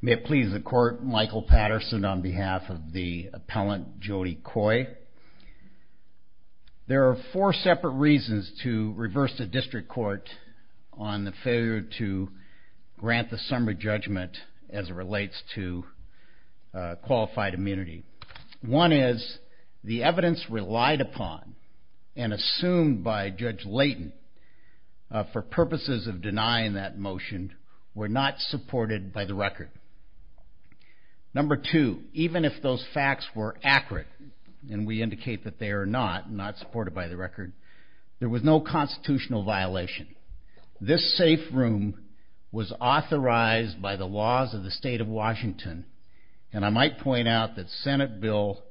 May it please the court, Michael Patterson on behalf of the appellant Jodi Coy. There are four separate reasons to reverse the district court on the failure to grant the summary judgment as it relates to qualified immunity. One is the evidence relied upon and assumed by Judge Leighton for purposes of denying that motion were not supported by the record. Number two, even if those facts were accurate and we indicate that they are not, not supported by the record, there was no constitutional violation. This safe room was authorized by the laws of the state of Washington and I might point out that Senate Bill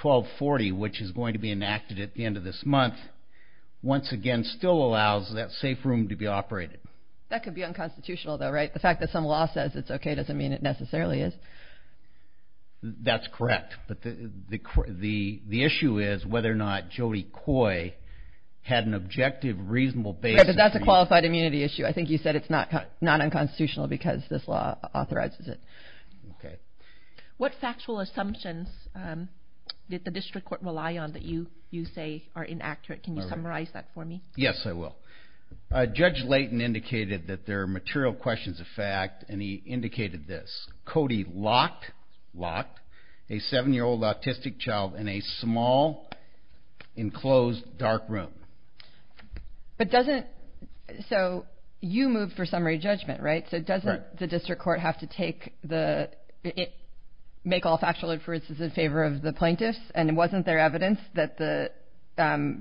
1240 which is going to be enacted at the end of this month, once again still allows that safe room to be operated. That could be unconstitutional though, right? The fact that some law says it's okay doesn't mean it necessarily is. That's correct, but the issue is whether or not Jodi Coy had an objective, reasonable basis. That's a qualified immunity issue. I think you said it's not unconstitutional because this law authorizes it. What factual assumptions did the district court rely on that you say are inaccurate? Can you summarize that for me? Yes, I will. Judge Leighton indicated that there are material questions of fact and he indicated this. Cody locked a seven year old autistic child in a small enclosed dark room. So you moved for summary judgment, right? So doesn't the district court have to make all factual inferences in favor of the plaintiffs and wasn't there evidence that the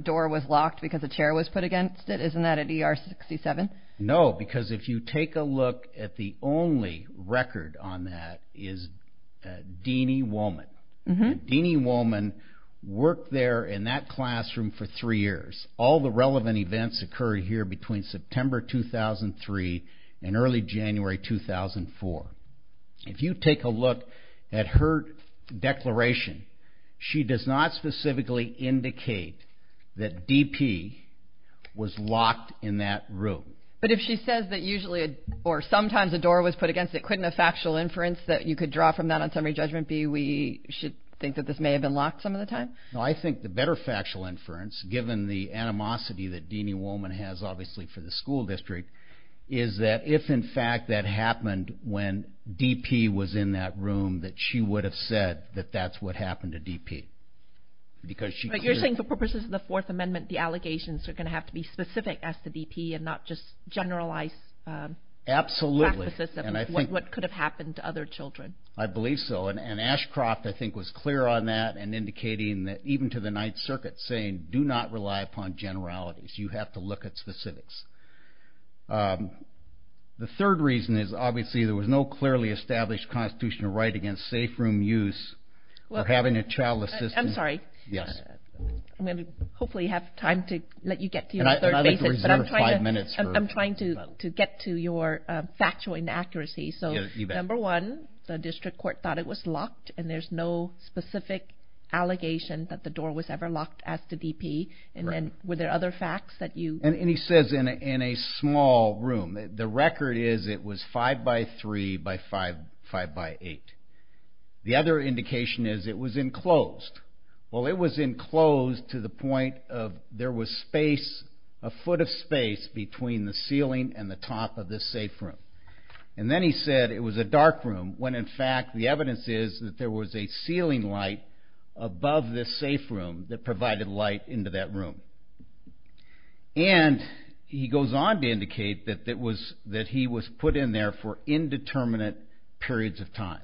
door was locked because a chair was put against it? Isn't that at ER 67? No, because if you take a look at the only record on that is Deanie Wollman. Deanie Wollman worked there in that classroom for three years. All the relevant events occurred here between September 2003 and early January 2004. If you take a look at her declaration, she does not specifically indicate that DP was locked in that room. But if she says that usually or sometimes a door was put against it, couldn't a factual inference that you could draw from that on summary judgment be we should think that this may have been locked some of the time? No, I think the better factual inference, given the animosity that Deanie Wollman has obviously for the school district, is that if in fact that happened when DP was in that room that she would have said that that's what happened to DP. But you're saying for purposes of the Fourth Amendment the allegations are going to have to be specific as to DP and not just generalized practices of what could have happened to other children. I believe so and Ashcroft I think was clear on that and indicating that even to the Ninth Circuit saying do not rely upon generalities. You have to look at specifics. The third reason is obviously there was no clearly established constitutional right against safe room use or having a childless system. I'm sorry. I'm going to hopefully have time to let you get to your third basis. I'm trying to get to your factual inaccuracies. So number one, the district court thought it was locked and there's no specific allegation that the door was ever locked as to DP. And then were there other facts that you... And he says in a small room. The record is it was five by three by five by eight. The other indication is it was enclosed. Well it was enclosed to the point of there was space, a foot of space, between the ceiling and the top of this safe room. And then he said it was a dark room, when in fact the evidence is that there was a ceiling light above this safe room that provided light into that room. And he goes on to indicate that he was put in there for indeterminate periods of time.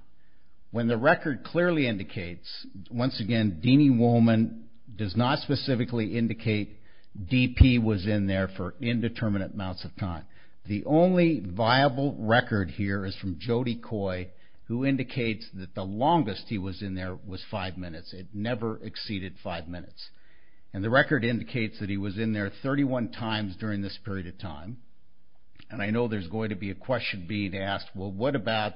When the record clearly indicates, once again Deanie Woolman does not specifically indicate DP was in there for indeterminate amounts of time. The only viable record here is from Jody Coy who indicates that the longest he was in there was five minutes. It never exceeded five minutes. And the record indicates that he was in there 31 times during this period of time. And I know there's going to be a question being asked, well what about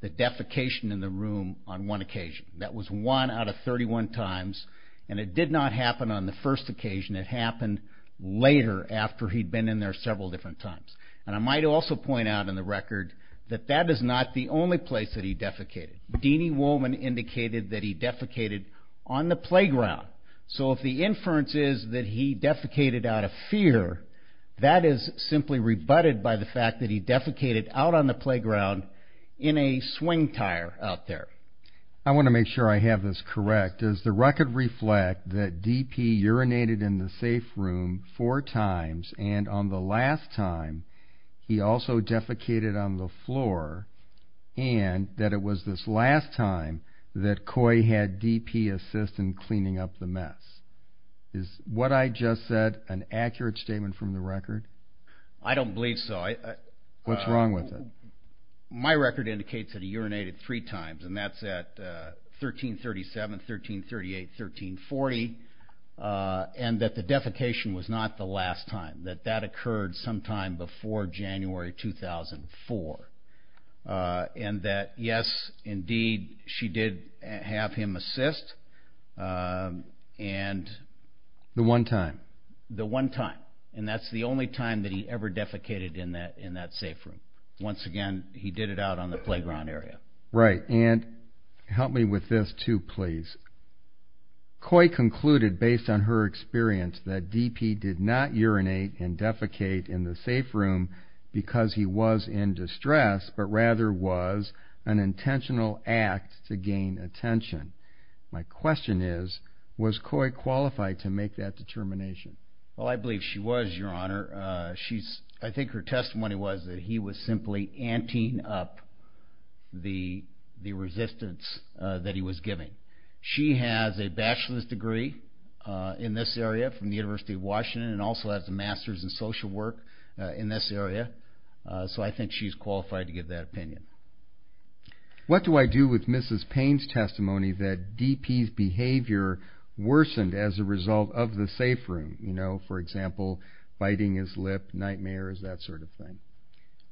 the defecation in the room on one occasion? That was one out of 31 times and it did not happen on the first occasion. It happened later after he'd been in there several different times. And I might also point out in the record that that is not the only place that he defecated. Deanie Woolman indicated that he defecated on the playground. So if the inference is that he defecated out of fear, that is simply rebutted by the fact that he defecated out on the playground in a swing tire out there. I want to make sure I have this correct. Does the record reflect that he also defecated on the floor and that it was this last time that Coy had DP assist in cleaning up the mess? Is what I just said an accurate statement from the record? I don't believe so. What's wrong with it? My record indicates that he urinated three times and that's at 1337, 1338, 1340. And that the defecation was not the last time that that occurred sometime before January 2004. And that yes, indeed, she did have him assist. The one time? The one time. And that's the only time that he ever defecated in that safe room. Once again, he did it out on the playground area. Right. And help me with this too, please. Coy concluded based on her experience that DP did not urinate and defecate in the safe room because he was in distress, but rather was an intentional act to gain attention. My question is, was Coy qualified to make that determination? Well, I believe she was, your honor. I think her testimony was that he was simply anting up the resistance that he was giving. She has a bachelor's degree in this area from the University of Washington and also has a master's in social work in this area. So I think she's qualified to give that opinion. What do I do with Mrs. Payne's testimony that DP's behavior worsened as a result of the safe room? You know, for example, biting his lip, nightmares, that sort of thing.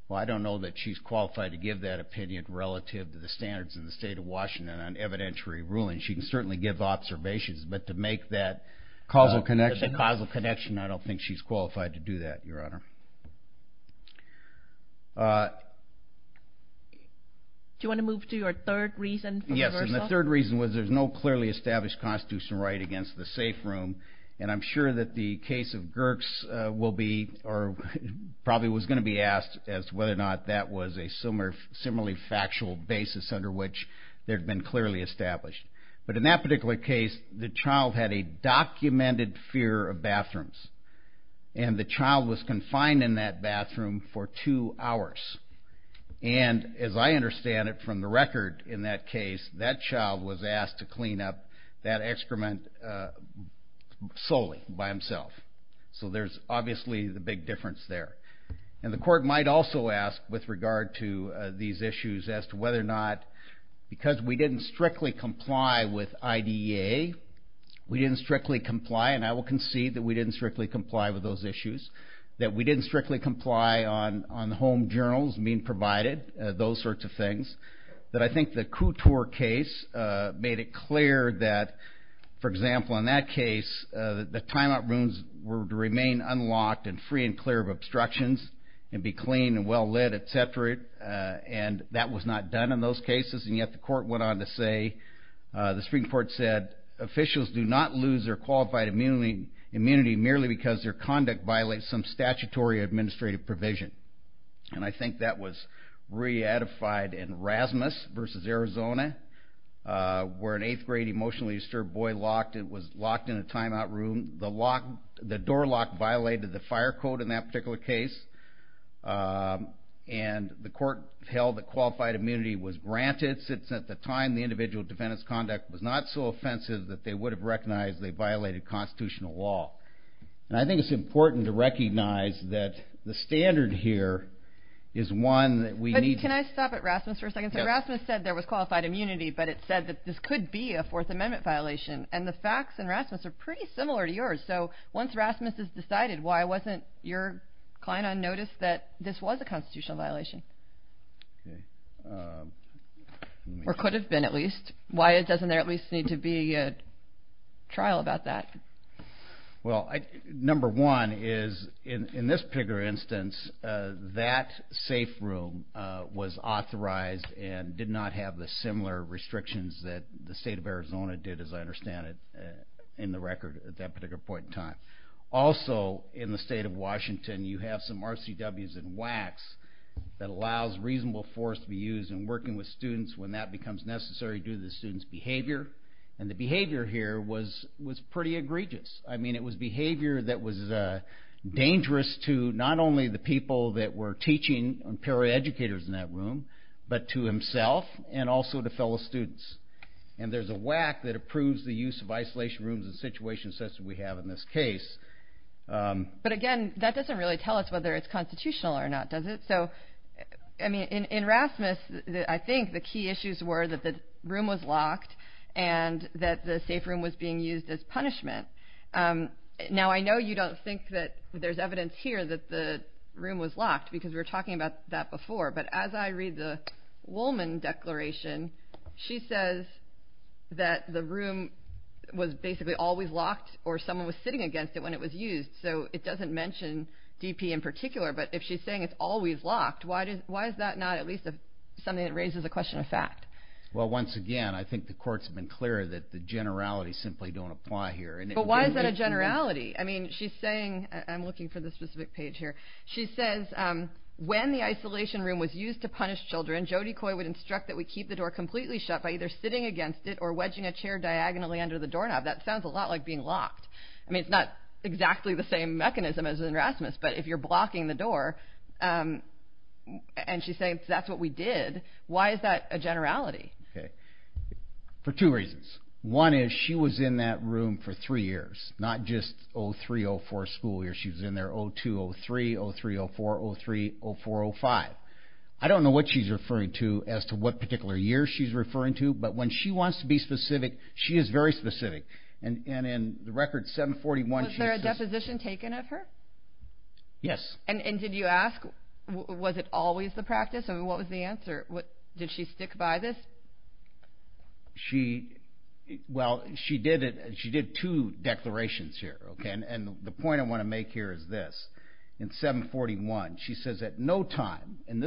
Well, I don't know that she's qualified to give that opinion relative to the standards in the state of Washington on evidentiary ruling. She can certainly give observations, but to make that causal connection, I don't think she's qualified to do that, your honor. Do you want to move to your third reason? Yes. And the third reason was there's no clearly established constitutional right against the safe room. And I'm sure that the case of Gierks will be, or probably was going to be asked as to whether or not that was a similarly factual basis under which there'd been clearly established. But in that particular case, the child had a documented fear of bathrooms. And the child was confined in that bathroom for two hours. And as I understand it from the record in that case, that child was asked to clean up that excrement solely by himself. So there's obviously the big difference there. And the court might also ask with regard to these issues as to whether or not, because we didn't strictly comply with IDEA, we didn't strictly comply, and I will concede that we didn't strictly comply with those issues, that we didn't strictly comply on home journals being provided, those sorts of things. But I think the Couture case made it clear that, for example, in that case, the timeout rooms were to remain unlocked and free and clear of obstructions and be clean and well-lit, etc. And that was not done in those cases. And yet the court went on to say, the Supreme Court said, officials do not lose their qualified immunity merely because their conduct violates some statutory administrative provision. And I think that was re-edified in Rasmus v. Arizona, where an 8th grade emotionally disturbed boy was locked in a timeout room. The door lock violated the fire code in that particular case. And the court held that qualified immunity was granted, since at the time, the individual defendant's conduct was not so offensive that they would have recognized they violated constitutional law. And I think it's important to recognize that the standard here is one that we need to... Can I stop at Rasmus for a second? So Rasmus said there was qualified immunity, but it said that this could be a Fourth Amendment violation. And the facts in Rasmus are pretty similar to yours. So once Rasmus has decided, why wasn't your client on notice that this was a constitutional violation? Or could have been, at least. Why doesn't there at least need to be a trial about that? Well, number one is, in this particular instance, that safe room was authorized and did not have the similar restrictions that the state of Arizona did, as I understand it, in the record at that particular point in time. Also, in the state of Washington, you have some RCWs and WACs that allows reasonable force to be used in working with students when that becomes necessary due to the student's behavior. And the behavior here was pretty egregious. I mean, it was behavior that was dangerous to not only the people that were teaching, the educators in that room, but to himself, and also to fellow students. And there's a WAC that approves the use of isolation rooms in situations such as we have in this case. But again, that doesn't really tell us whether it's constitutional or not, does it? So, I mean, in Rasmus, I think the key issues were that the room was locked, and that the safe room was being used as punishment. Now, I know you don't think that there's evidence here that the room was locked, because we were talking about that before. But as I read the Woolman declaration, she says that the room was basically always locked, or someone was sitting against it when it was used. So it doesn't mention DP in particular. But if she's saying it's always locked, why is that not at least something that raises a question of fact? Well, once again, I think the court's been clear that the generalities simply don't apply here. But why is that a generality? I mean, she's saying, I'm looking for the specific page here. She says, when the isolation room was used to punish children, Jody Coy would instruct that we keep the door completely shut by either sitting against it or wedging a chair diagonally under the doorknob. That is not exactly the same mechanism as in Erasmus. But if you're blocking the door, and she's saying that's what we did, why is that a generality? For two reasons. One is she was in that room for three years, not just 03-04 school year. She was in there 02-03, 03-04, 03-04-05. I don't know what she's referring to as to what particular year she's referring to. But when she wants to be specific, she is very specific. And in the record, 741, she says... Was there a deposition taken of her? Yes. And did you ask, was it always the practice? I mean, what was the answer? Did she stick by this? She, well, she did two declarations here. And the point I want to make here is this. In 741, she says, at no point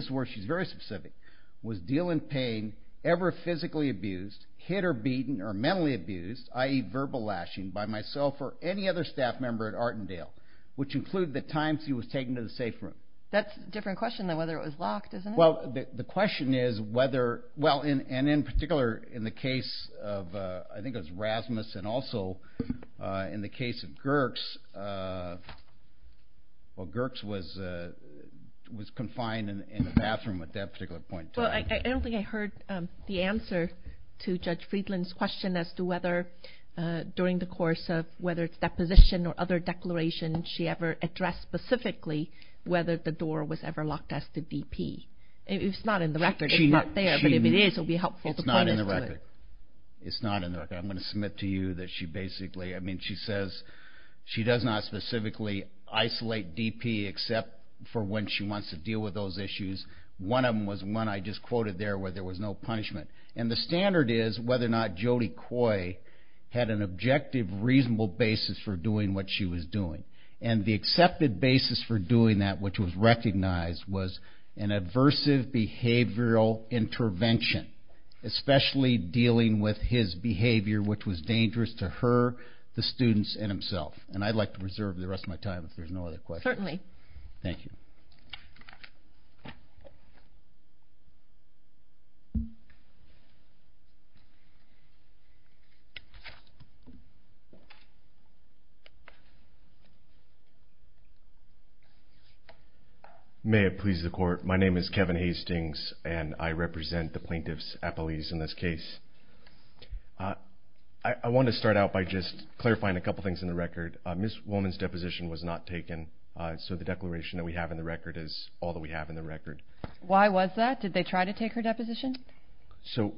was she physically abused, hit or beaten, or mentally abused, i.e., verbal lashing, by myself or any other staff member at Artendale, which include the times she was taken to the safe room. That's a different question than whether it was locked, isn't it? Well, the question is whether... Well, and in particular, in the case of, I think it was Erasmus, and also in the case of Gierks, well, Gierks was confined in the bathroom at that particular point in time. Well, I don't think I heard the answer to Judge Friedland's question as to whether, during the course of whether it's deposition or other declaration, she ever addressed specifically whether the door was ever locked as to DP. It's not in the record. It's not there, but if it is, it would be helpful to point us to it. It's not in the record. I'm going to submit to you that she basically, I mean, she says she does not specifically isolate DP except for when she wants to deal with those issues. One of them was one I just quoted there where there was no punishment, and the standard is whether or not Jody Coy had an objective, reasonable basis for doing what she was doing, and the accepted basis for doing that, which was recognized, was an aversive behavioral intervention, especially dealing with his behavior, which was dangerous to her, the students, and himself, and I'd like to reserve the rest of my time if there's no other questions. Certainly. Thank you. May it please the court, my name is Kevin Hastings, and I represent the plaintiffs' appellees in this case. I want to start out by just clarifying a couple things in the record. Ms. Wollman's deposition was not taken, so the declaration that we have in the record is all that we have in the record. Why was that? Did they try to take her deposition? So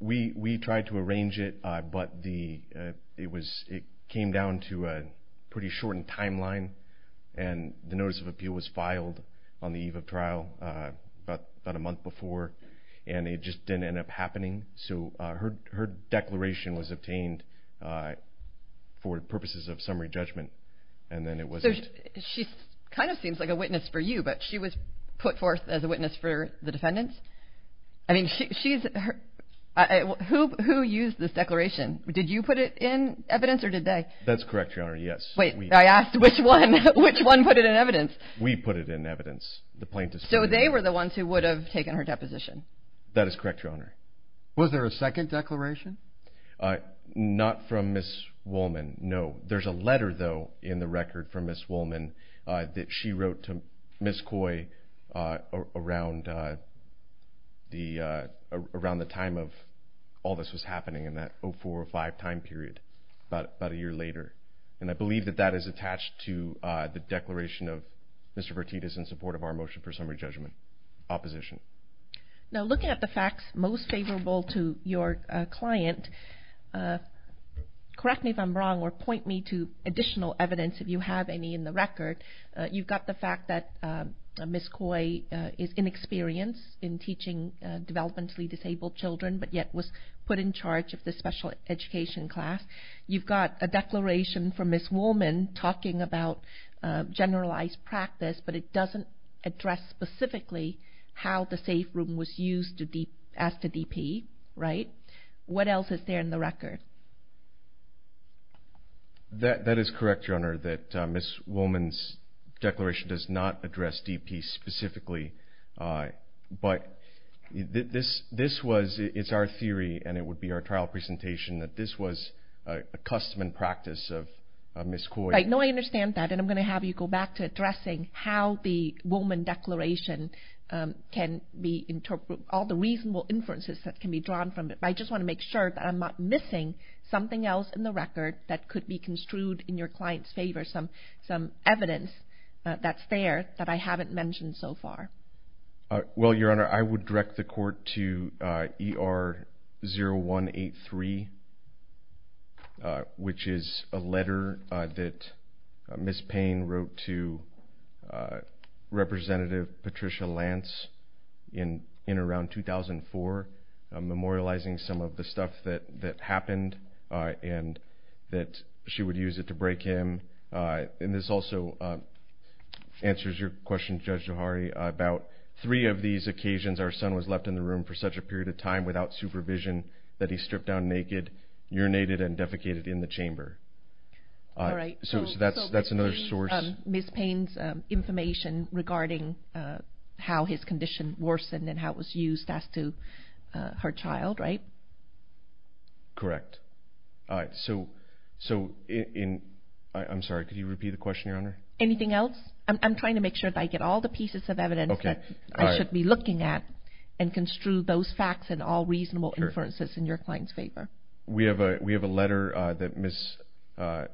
we tried to arrange it, but it came down to a pretty shortened timeline, and the notice of appeal was filed on the eve of trial about a month before, and it just didn't end up happening, so her declaration was obtained for purposes of summary judgment, and then it wasn't. So she kind of seems like a witness for you, but she was put forth as a witness for the defendants? I mean, she's...who used this declaration? Did you put it in evidence, or did they? That's correct, Your Honor, yes. Wait, I asked which one put it in evidence. We put it in evidence, the plaintiffs. So they were the ones who would have taken her deposition? That is correct, Your Honor. Was there a second declaration? Not from Ms. Wollman, no. There's a letter, though, in the record from Ms. Wollman that she wrote to Ms. Coy around the time of all this was happening in that 04-05 time period, about a year later, and I believe that that is attached to the declaration of Mr. Bertittas in support of our motion for summary judgment. Opposition? Now, looking at the facts most favorable to your client, correct me if I'm wrong, or point me to additional evidence if you have any in the record. You've got the fact that Ms. Coy is inexperienced in teaching developmentally disabled children, but yet was put in charge of the special education class. You've got a declaration from Ms. Wollman talking about generalized practice, but it doesn't address specifically how the safe room was used as to DP, right? What else is there in the record? That is correct, Your Honor, that Ms. Wollman's declaration does not address DP specifically, but it's our theory, and it would be our trial presentation, that this was a custom and practice of Ms. Coy. No, I understand that, and I'm going to have you go back to addressing how the Wollman declaration can be interpreted, all the reasonable inferences that can be drawn from it, but I just want to make sure that I'm not missing something else in the record that could be construed in your client's favor, some evidence that's there that I haven't mentioned so far. Well, Your Honor, I would direct the court to ER-0183, which is a letter that Ms. Payne wrote to Representative Patricia Lance in around 2004, memorializing some of the stuff that happened, and that she would use it to break in. And this also answers your question, Judge Jahari, about three of these occasions our son was left in the room for such a period of time without supervision that he stripped down naked, urinated, and defecated in the chamber. All right, so Ms. Payne's information regarding how his condition worsened and how it was used as to her child, right? Correct. So, I'm sorry, could you repeat the question, Your Honor? Anything else? I'm trying to make sure that I get all the pieces of evidence that I should be looking at and construe those facts and all reasonable inferences in your client's favor. We have a letter that Ms.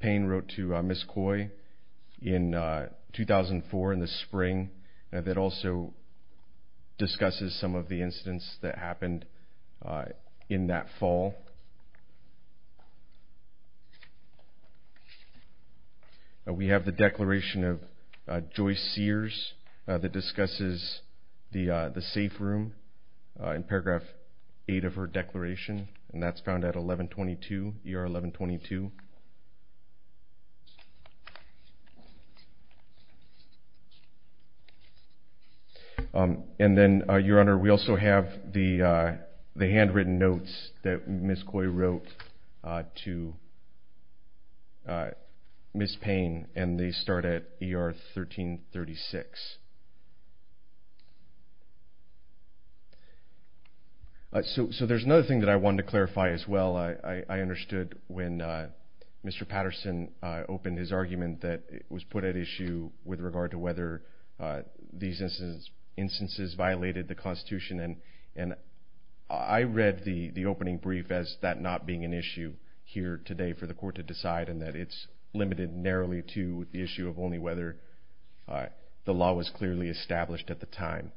Payne wrote to Ms. Coy in 2004, in the spring, that also discusses some of the incidents that happened in that fall. We have the declaration of Joyce Sears that discusses the safe room in paragraph 8 of her declaration, and that's found at 1122, ER-1122. And then, Your Honor, we also have the handwritten notes that Ms. Coy wrote to Ms. Payne, and they start at ER-1336. So, there's another thing that I wanted to clarify as well. I understood when Mr. Patterson opened his argument that it was put at issue with regard to whether these instances violated the Constitution. And I read the opening brief as that not being an issue here today for the court to decide, and that it's limited narrowly to the issue of only whether the law was clearly established at the time.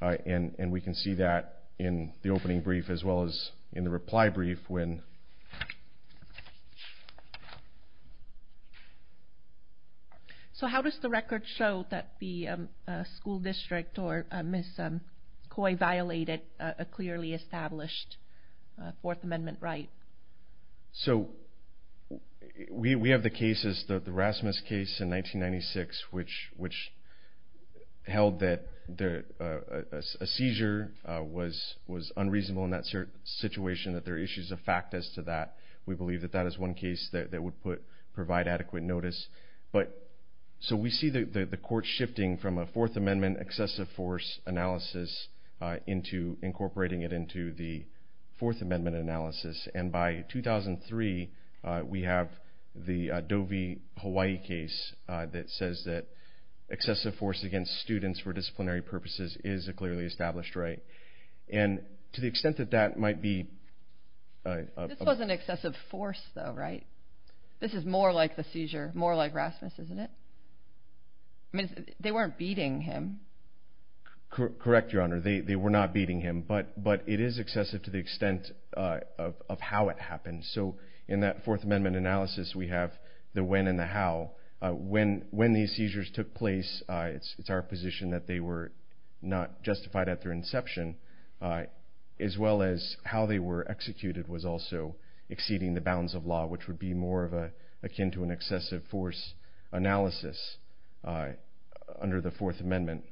And we can see that in the opening brief as well as in the reply brief when... So, how does the record show that the school district or Ms. Coy violated a clearly established Fourth Amendment right? So, we have the cases, the Rasmus case in 1996, which held that a seizure was unreasonable in that situation, that there are issues of fact as to that. We believe that that is one case that would provide adequate notice. So, we see the court shifting from a Fourth Amendment excessive force analysis into incorporating it into the Fourth Amendment analysis. And by 2003, we have the Doe v. Hawaii case that says that excessive force against students for disciplinary purposes is a clearly established right. And to the extent that that might be... This wasn't excessive force though, right? This is more like the seizure, more like Rasmus, isn't it? I mean, they weren't beating him. Correct, Your Honor. They were not beating him. But it is excessive to the extent of how it happened. So, in that Fourth Amendment analysis, we have the when and the how. When these seizures took place, it's our position that they were not justified at their inception, as well as how they were executed was also exceeding the bounds of law, which would be more akin to an excessive force analysis under the Fourth Amendment.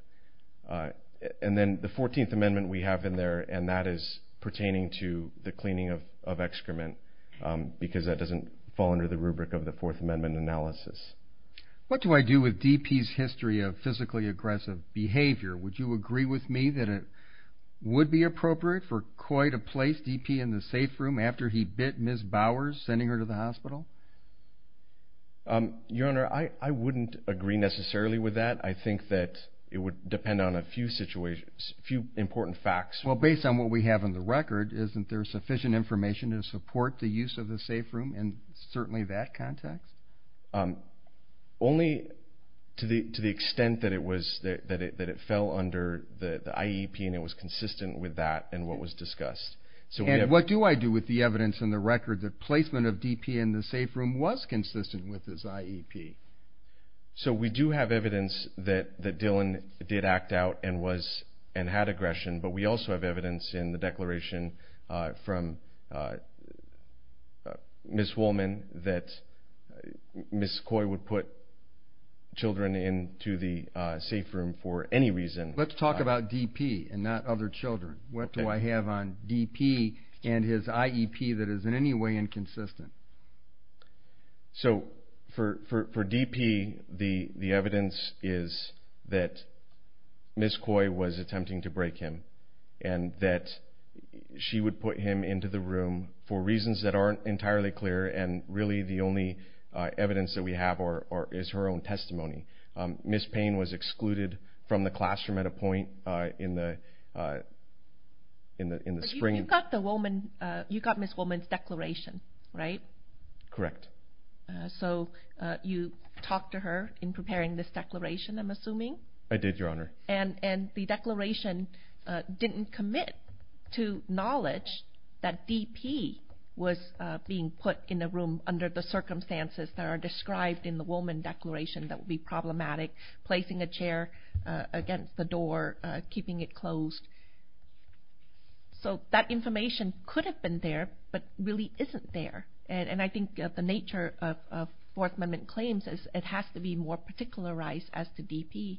And then the 14th Amendment we have in there, and that is pertaining to the cleaning of excrement, because that doesn't fall under the rubric of the Fourth Amendment analysis. What do I do with DP's history of physically aggressive behavior? Would you agree with me that it would be appropriate for Coy to place DP in the safe room after he bit Ms. Bowers, sending her to the hospital? Your Honor, I wouldn't agree necessarily with that. I think that it would depend on a few important facts. Well, based on what we have on the record, isn't there sufficient information to support the use of the safe room in certainly that context? Only to the extent that it fell under the IEP, and it was consistent with that, and what was discussed. So what do I do with the evidence in the record that placement of DP in the safe room was consistent with his IEP? So we do have evidence that Dylan did act out and had aggression, but we also have evidence in the declaration from Ms. Woolman that Ms. Coy would put children into the safe room for any reason. Let's talk about DP and not other children. What do I have on DP and his IEP that is in any way inconsistent? So for DP, the evidence is that Ms. Coy was attempting to break him, and that she would put him into the room for reasons that aren't entirely clear, and really the only evidence that we have is her own testimony. Ms. Payne was excluded from the classroom at a point in the spring. You got Ms. Woolman's declaration, right? Correct. So you talked to her in preparing this declaration, I'm assuming? I did, Your Honor. And the declaration didn't commit to knowledge that DP was being put in the room under the circumstances that are described in the Woolman declaration that would be problematic, placing a chair against the door, keeping it closed. So that information could have been there, but really isn't there. And I think the nature of Fourth Amendment claims is it has to be more particularized as to DP,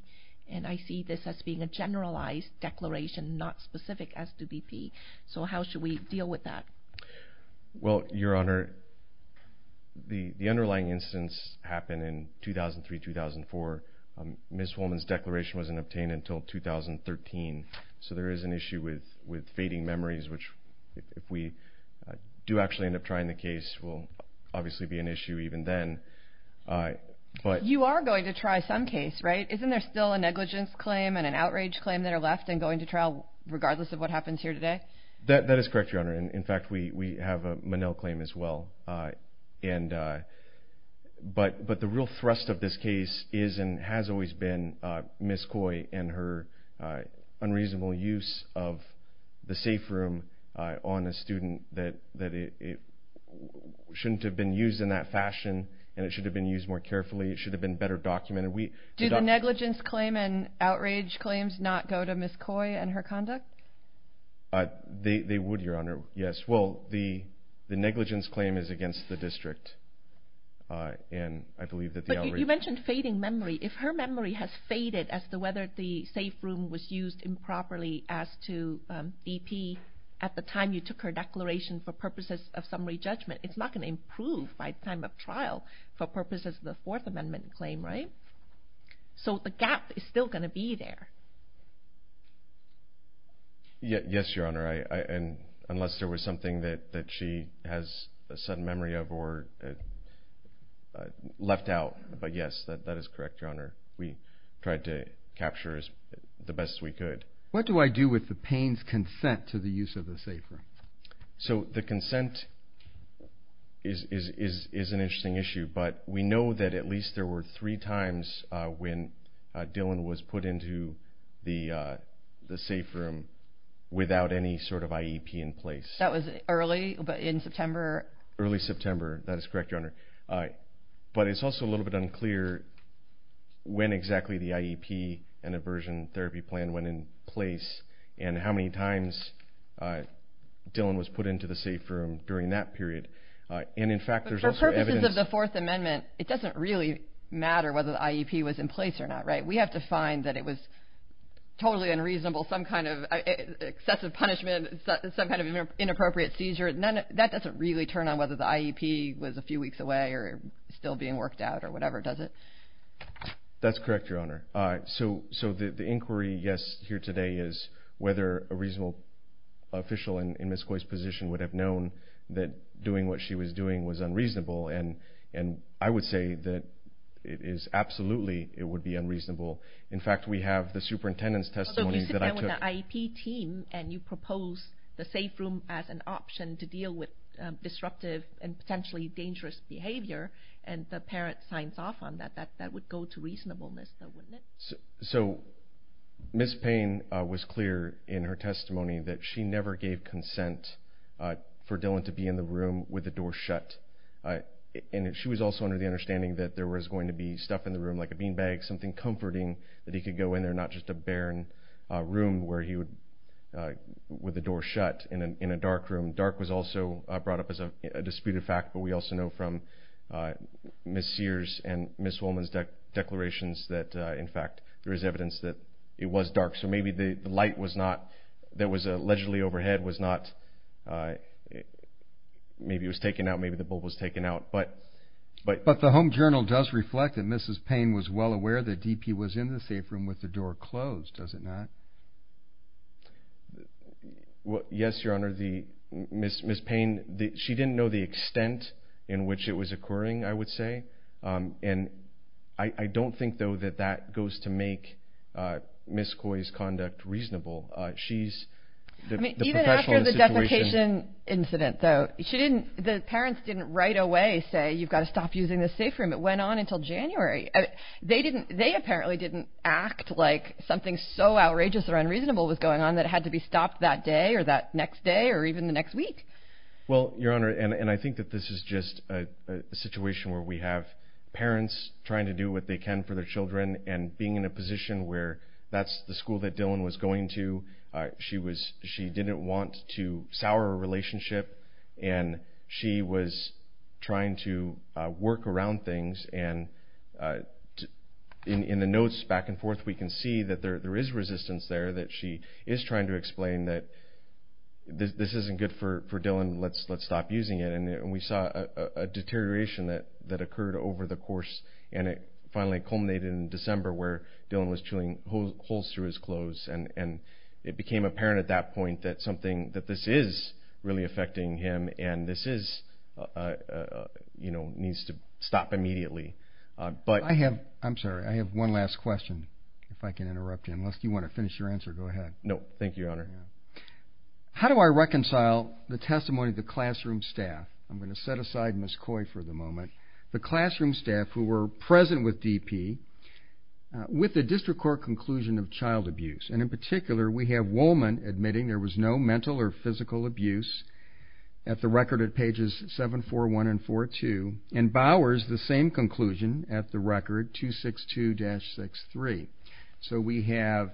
and I see this as being a generalized declaration, not specific as to DP. So how should we deal with that? Well, Your Honor, the underlying instance happened in 2003-2004. Ms. Woolman's declaration wasn't obtained until 2013. So there is an issue with fading memories, which if we do actually end up trying the case will obviously be an issue even then. You are going to try some case, right? Isn't there still a negligence claim and an outrage claim that are left and going to trial regardless of what happens here today? That is correct, Your Honor. In fact, we have a Monell claim as well. And but the real thrust of this case is and has always been Ms. Coy and her unreasonable use of the safe room on a student that it shouldn't have been used in that fashion, and it should have been used more carefully. It should have been better documented. Do the negligence claim and outrage claims not go to Ms. Coy and her conduct? They would, Your Honor, yes. Well, the negligence claim is against the district. And I believe that the outrage... But you mentioned fading memory. If her memory has faded as to whether the safe room was used improperly as to DP at the time you took her declaration for purposes of summary judgment, it's not going to improve by time of trial for purposes of the Fourth Amendment claim, right? So the gap is still going to be there. Yes, Your Honor, unless there was something that she has a sudden memory of or left out. But yes, that is correct, Your Honor. We tried to capture as the best we could. What do I do with the Payne's consent to the use of the safe room? So the consent is an interesting issue, but we know that at least there were three times when Dylan was put into the safe room without any sort of IEP in place. That was early, but in September... Early September. That is correct, Your Honor. But it's also a little bit unclear when exactly the IEP and aversion therapy plan went in place and how many times Dylan was put into the safe room during that period. And in fact, there's also evidence... We have to find that it was totally unreasonable, some kind of excessive punishment, some kind of inappropriate seizure. That doesn't really turn on whether the IEP was a few weeks away or still being worked out or whatever, does it? That's correct, Your Honor. So the inquiry, yes, here today is whether a reasonable official in Ms. Coy's position would have known that doing what she was doing was unreasonable. And I would say that it is absolutely... It would be unreasonable. In fact, we have the superintendent's testimony that I took... Although you sit down with the IEP team and you propose the safe room as an option to deal with disruptive and potentially dangerous behavior, and the parent signs off on that, that would go to reasonableness, though, wouldn't it? So Ms. Payne was clear in her testimony that she never gave consent for Dylan to be in the room with the door shut. And she was also under the understanding that there was going to be stuff in the room, like a beanbag, something comforting that he could go in there, not just a barren room where he would... With the door shut in a dark room. Dark was also brought up as a disputed fact, but we also know from Ms. Sears and Ms. Woolman's declarations that, in fact, there is evidence that it was dark. So maybe the light was not... That was allegedly overhead was not... Maybe it was taken out. Maybe the bulb was taken out, but... But the Home Journal does reflect that Mrs. Payne was well aware that DP was in the safe room with the door closed, does it not? Yes, Your Honor. Ms. Payne, she didn't know the extent in which it was occurring, I would say. And I don't think, though, that that goes to make Ms. Coy's conduct reasonable. She's the professional in the situation... The parents didn't right away say, you've got to stop using the safe room. It went on until January. They apparently didn't act like something so outrageous or unreasonable was going on that it had to be stopped that day or that next day or even the next week. Well, Your Honor, and I think that this is just a situation where we have parents trying to do what they can for their children and being in a position where that's the school that Dylan was going to. She didn't want to sour a relationship, and she was trying to work around things. And in the notes back and forth, we can see that there is resistance there, that she is trying to explain that this isn't good for Dylan. Let's stop using it. And we saw a deterioration that occurred over the course. And it finally culminated in December, where Dylan was chewing holes through his clothes. And it became apparent at that point that this is really affecting him, and this needs to stop immediately. I'm sorry. I have one last question, if I can interrupt you. Unless you want to finish your answer, go ahead. No. Thank you, Your Honor. How do I reconcile the testimony of the classroom staff? I'm going to set aside Ms. Coy for the moment. The classroom staff who were present with DP with the district court conclusion of child abuse. And in particular, we have Woolman admitting there was no mental or physical abuse at the record at pages 741 and 742. And Bowers, the same conclusion at the record, 262-63. So we have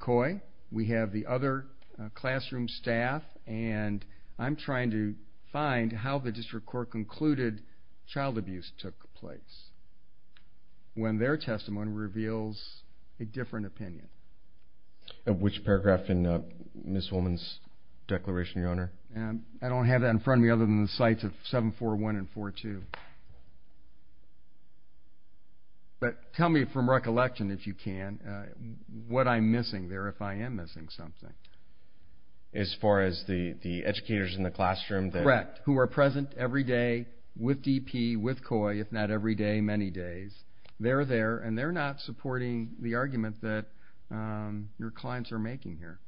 Coy. We have the other classroom staff. And I'm trying to find how the district court concluded child abuse took place, when their testimony reveals a different opinion. Which paragraph in Ms. Woolman's declaration, Your Honor? I don't have that in front of me, other than the sites of 741 and 742. But tell me from recollection, if you can, what I'm missing there, if I am missing something. As far as the educators in the classroom? Correct. Who are present every day with DP, with Coy, if not every day, many days. They're there. And they're not supporting the argument that your clients are making here.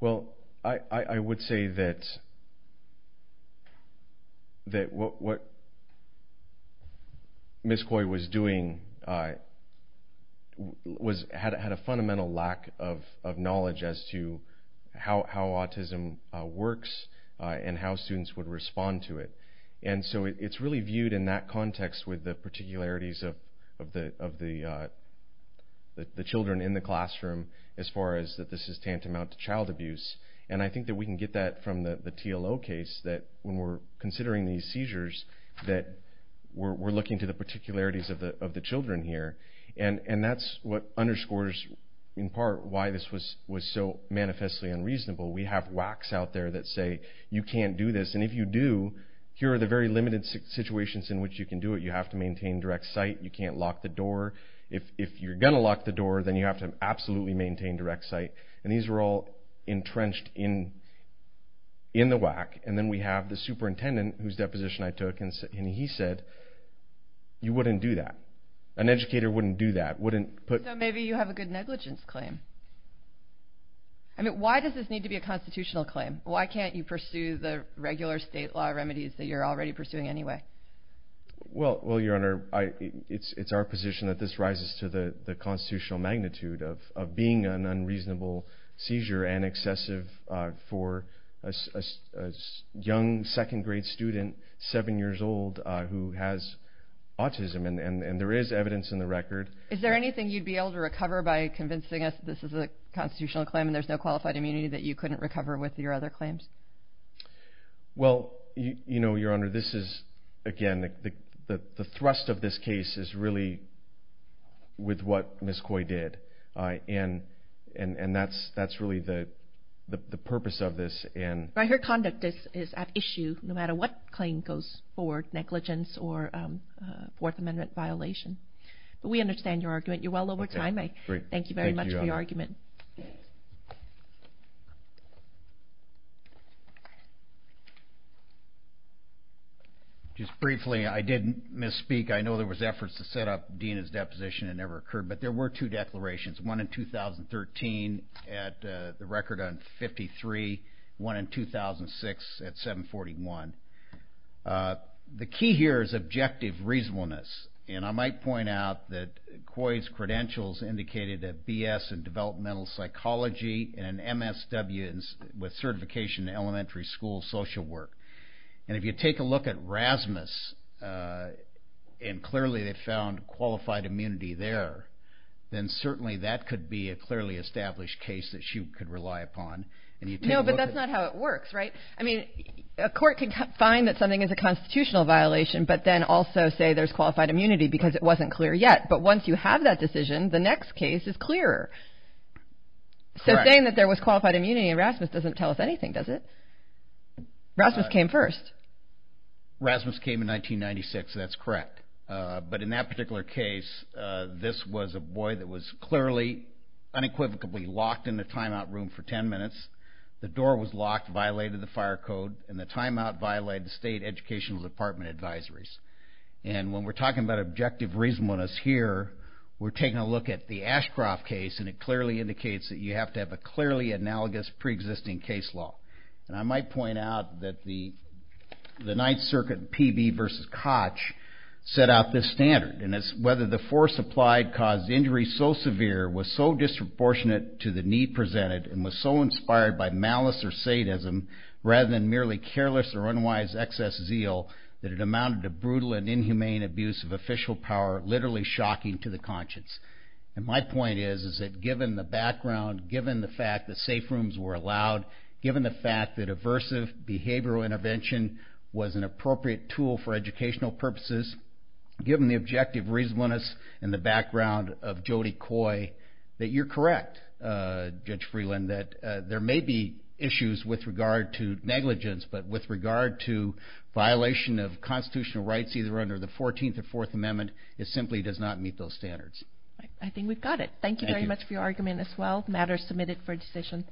Well, I would say that what Ms. Coy was doing had a fundamental lack of knowledge as to how autism works and how students would respond to it. And so it's really viewed in that context with the particularities of the children in the classroom, as far as that this is tantamount to child abuse. And I think that we can get that from the TLO case, that when we're considering these seizures, that we're looking to the particularities of the children here. And that's what underscores, in part, why this was so manifestly unreasonable. We have whacks out there that say, you can't do this. And if you do, here are the very limited situations in which you can do it. You have to maintain direct sight. You can't lock the door. If you're going to lock the door, then you have to absolutely maintain direct sight. And these are all entrenched in the whack. And then we have the superintendent, whose deposition I took, and he said, you wouldn't do that. An educator wouldn't do that. Wouldn't put- So maybe you have a good negligence claim. I mean, why does this need to be a constitutional claim? Why can't you pursue the regular state law remedies that you're already pursuing anyway? Well, Your Honor, it's our position that this rises to the constitutional magnitude of being an unreasonable seizure and excessive for a young second-grade student, seven years old, who has autism. And there is evidence in the record. Is there anything you'd be able to recover by convincing us this is a constitutional claim and there's no qualified immunity that you couldn't recover with your other claims? Well, you know, Your Honor, this is, again, the thrust of this case is really with what Ms. Coy did. And that's really the purpose of this. Right. Her conduct is at issue, no matter what claim goes forward, negligence or Fourth Amendment violation. But we understand your argument. You're well over time. I thank you very much for your argument. Thank you. Just briefly, I did misspeak. I know there was efforts to set up Dina's deposition. It never occurred. But there were two declarations, one in 2013 at the record on 53, one in 2006 at 741. The key here is objective reasonableness. And I might point out that Coy's credentials indicated a BS in developmental psychology and an MSW with certification in elementary school social work. And if you take a look at Rasmus, and clearly they found qualified immunity there, then certainly that could be a clearly established case that she could rely upon. No, but that's not how it works, right? I mean, a court can find that something is a constitutional violation, but then also say there's qualified immunity because it wasn't clear yet. But once you have that decision, the next case is clearer. So saying that there was qualified immunity in Rasmus doesn't tell us anything, does it? Rasmus came first. Rasmus came in 1996. That's correct. But in that particular case, this was a boy that was clearly unequivocally locked in the timeout room for 10 minutes. The door was locked, violated the fire code, and the timeout violated the state educational department advisories. And when we're talking about objective reasonableness here, we're taking a look at the Ashcroft case, and it clearly indicates that you have to have a clearly analogous preexisting case law. And I might point out that the Ninth Circuit PB versus Koch set out this standard. And it's whether the force applied caused injury so severe, was so disproportionate to the need presented, and was so inspired by malice or sadism, rather than merely careless or unwise excess zeal, that it amounted to brutal and inhumane abuse of official power, literally shocking to the conscience. And my point is, is that given the background, given the fact that safe rooms were allowed, given the fact that aversive behavioral intervention was an appropriate tool for educational purposes, given the objective reasonableness and the background of Jody Coy, that you're correct, Judge Freeland, that there may be issues with regard to negligence, but with regard to violation of constitutional rights, either under the 14th or Fourth Amendment, it simply does not meet those standards. I think we've got it. Thank you very much for your argument as well. Matter is submitted for decision.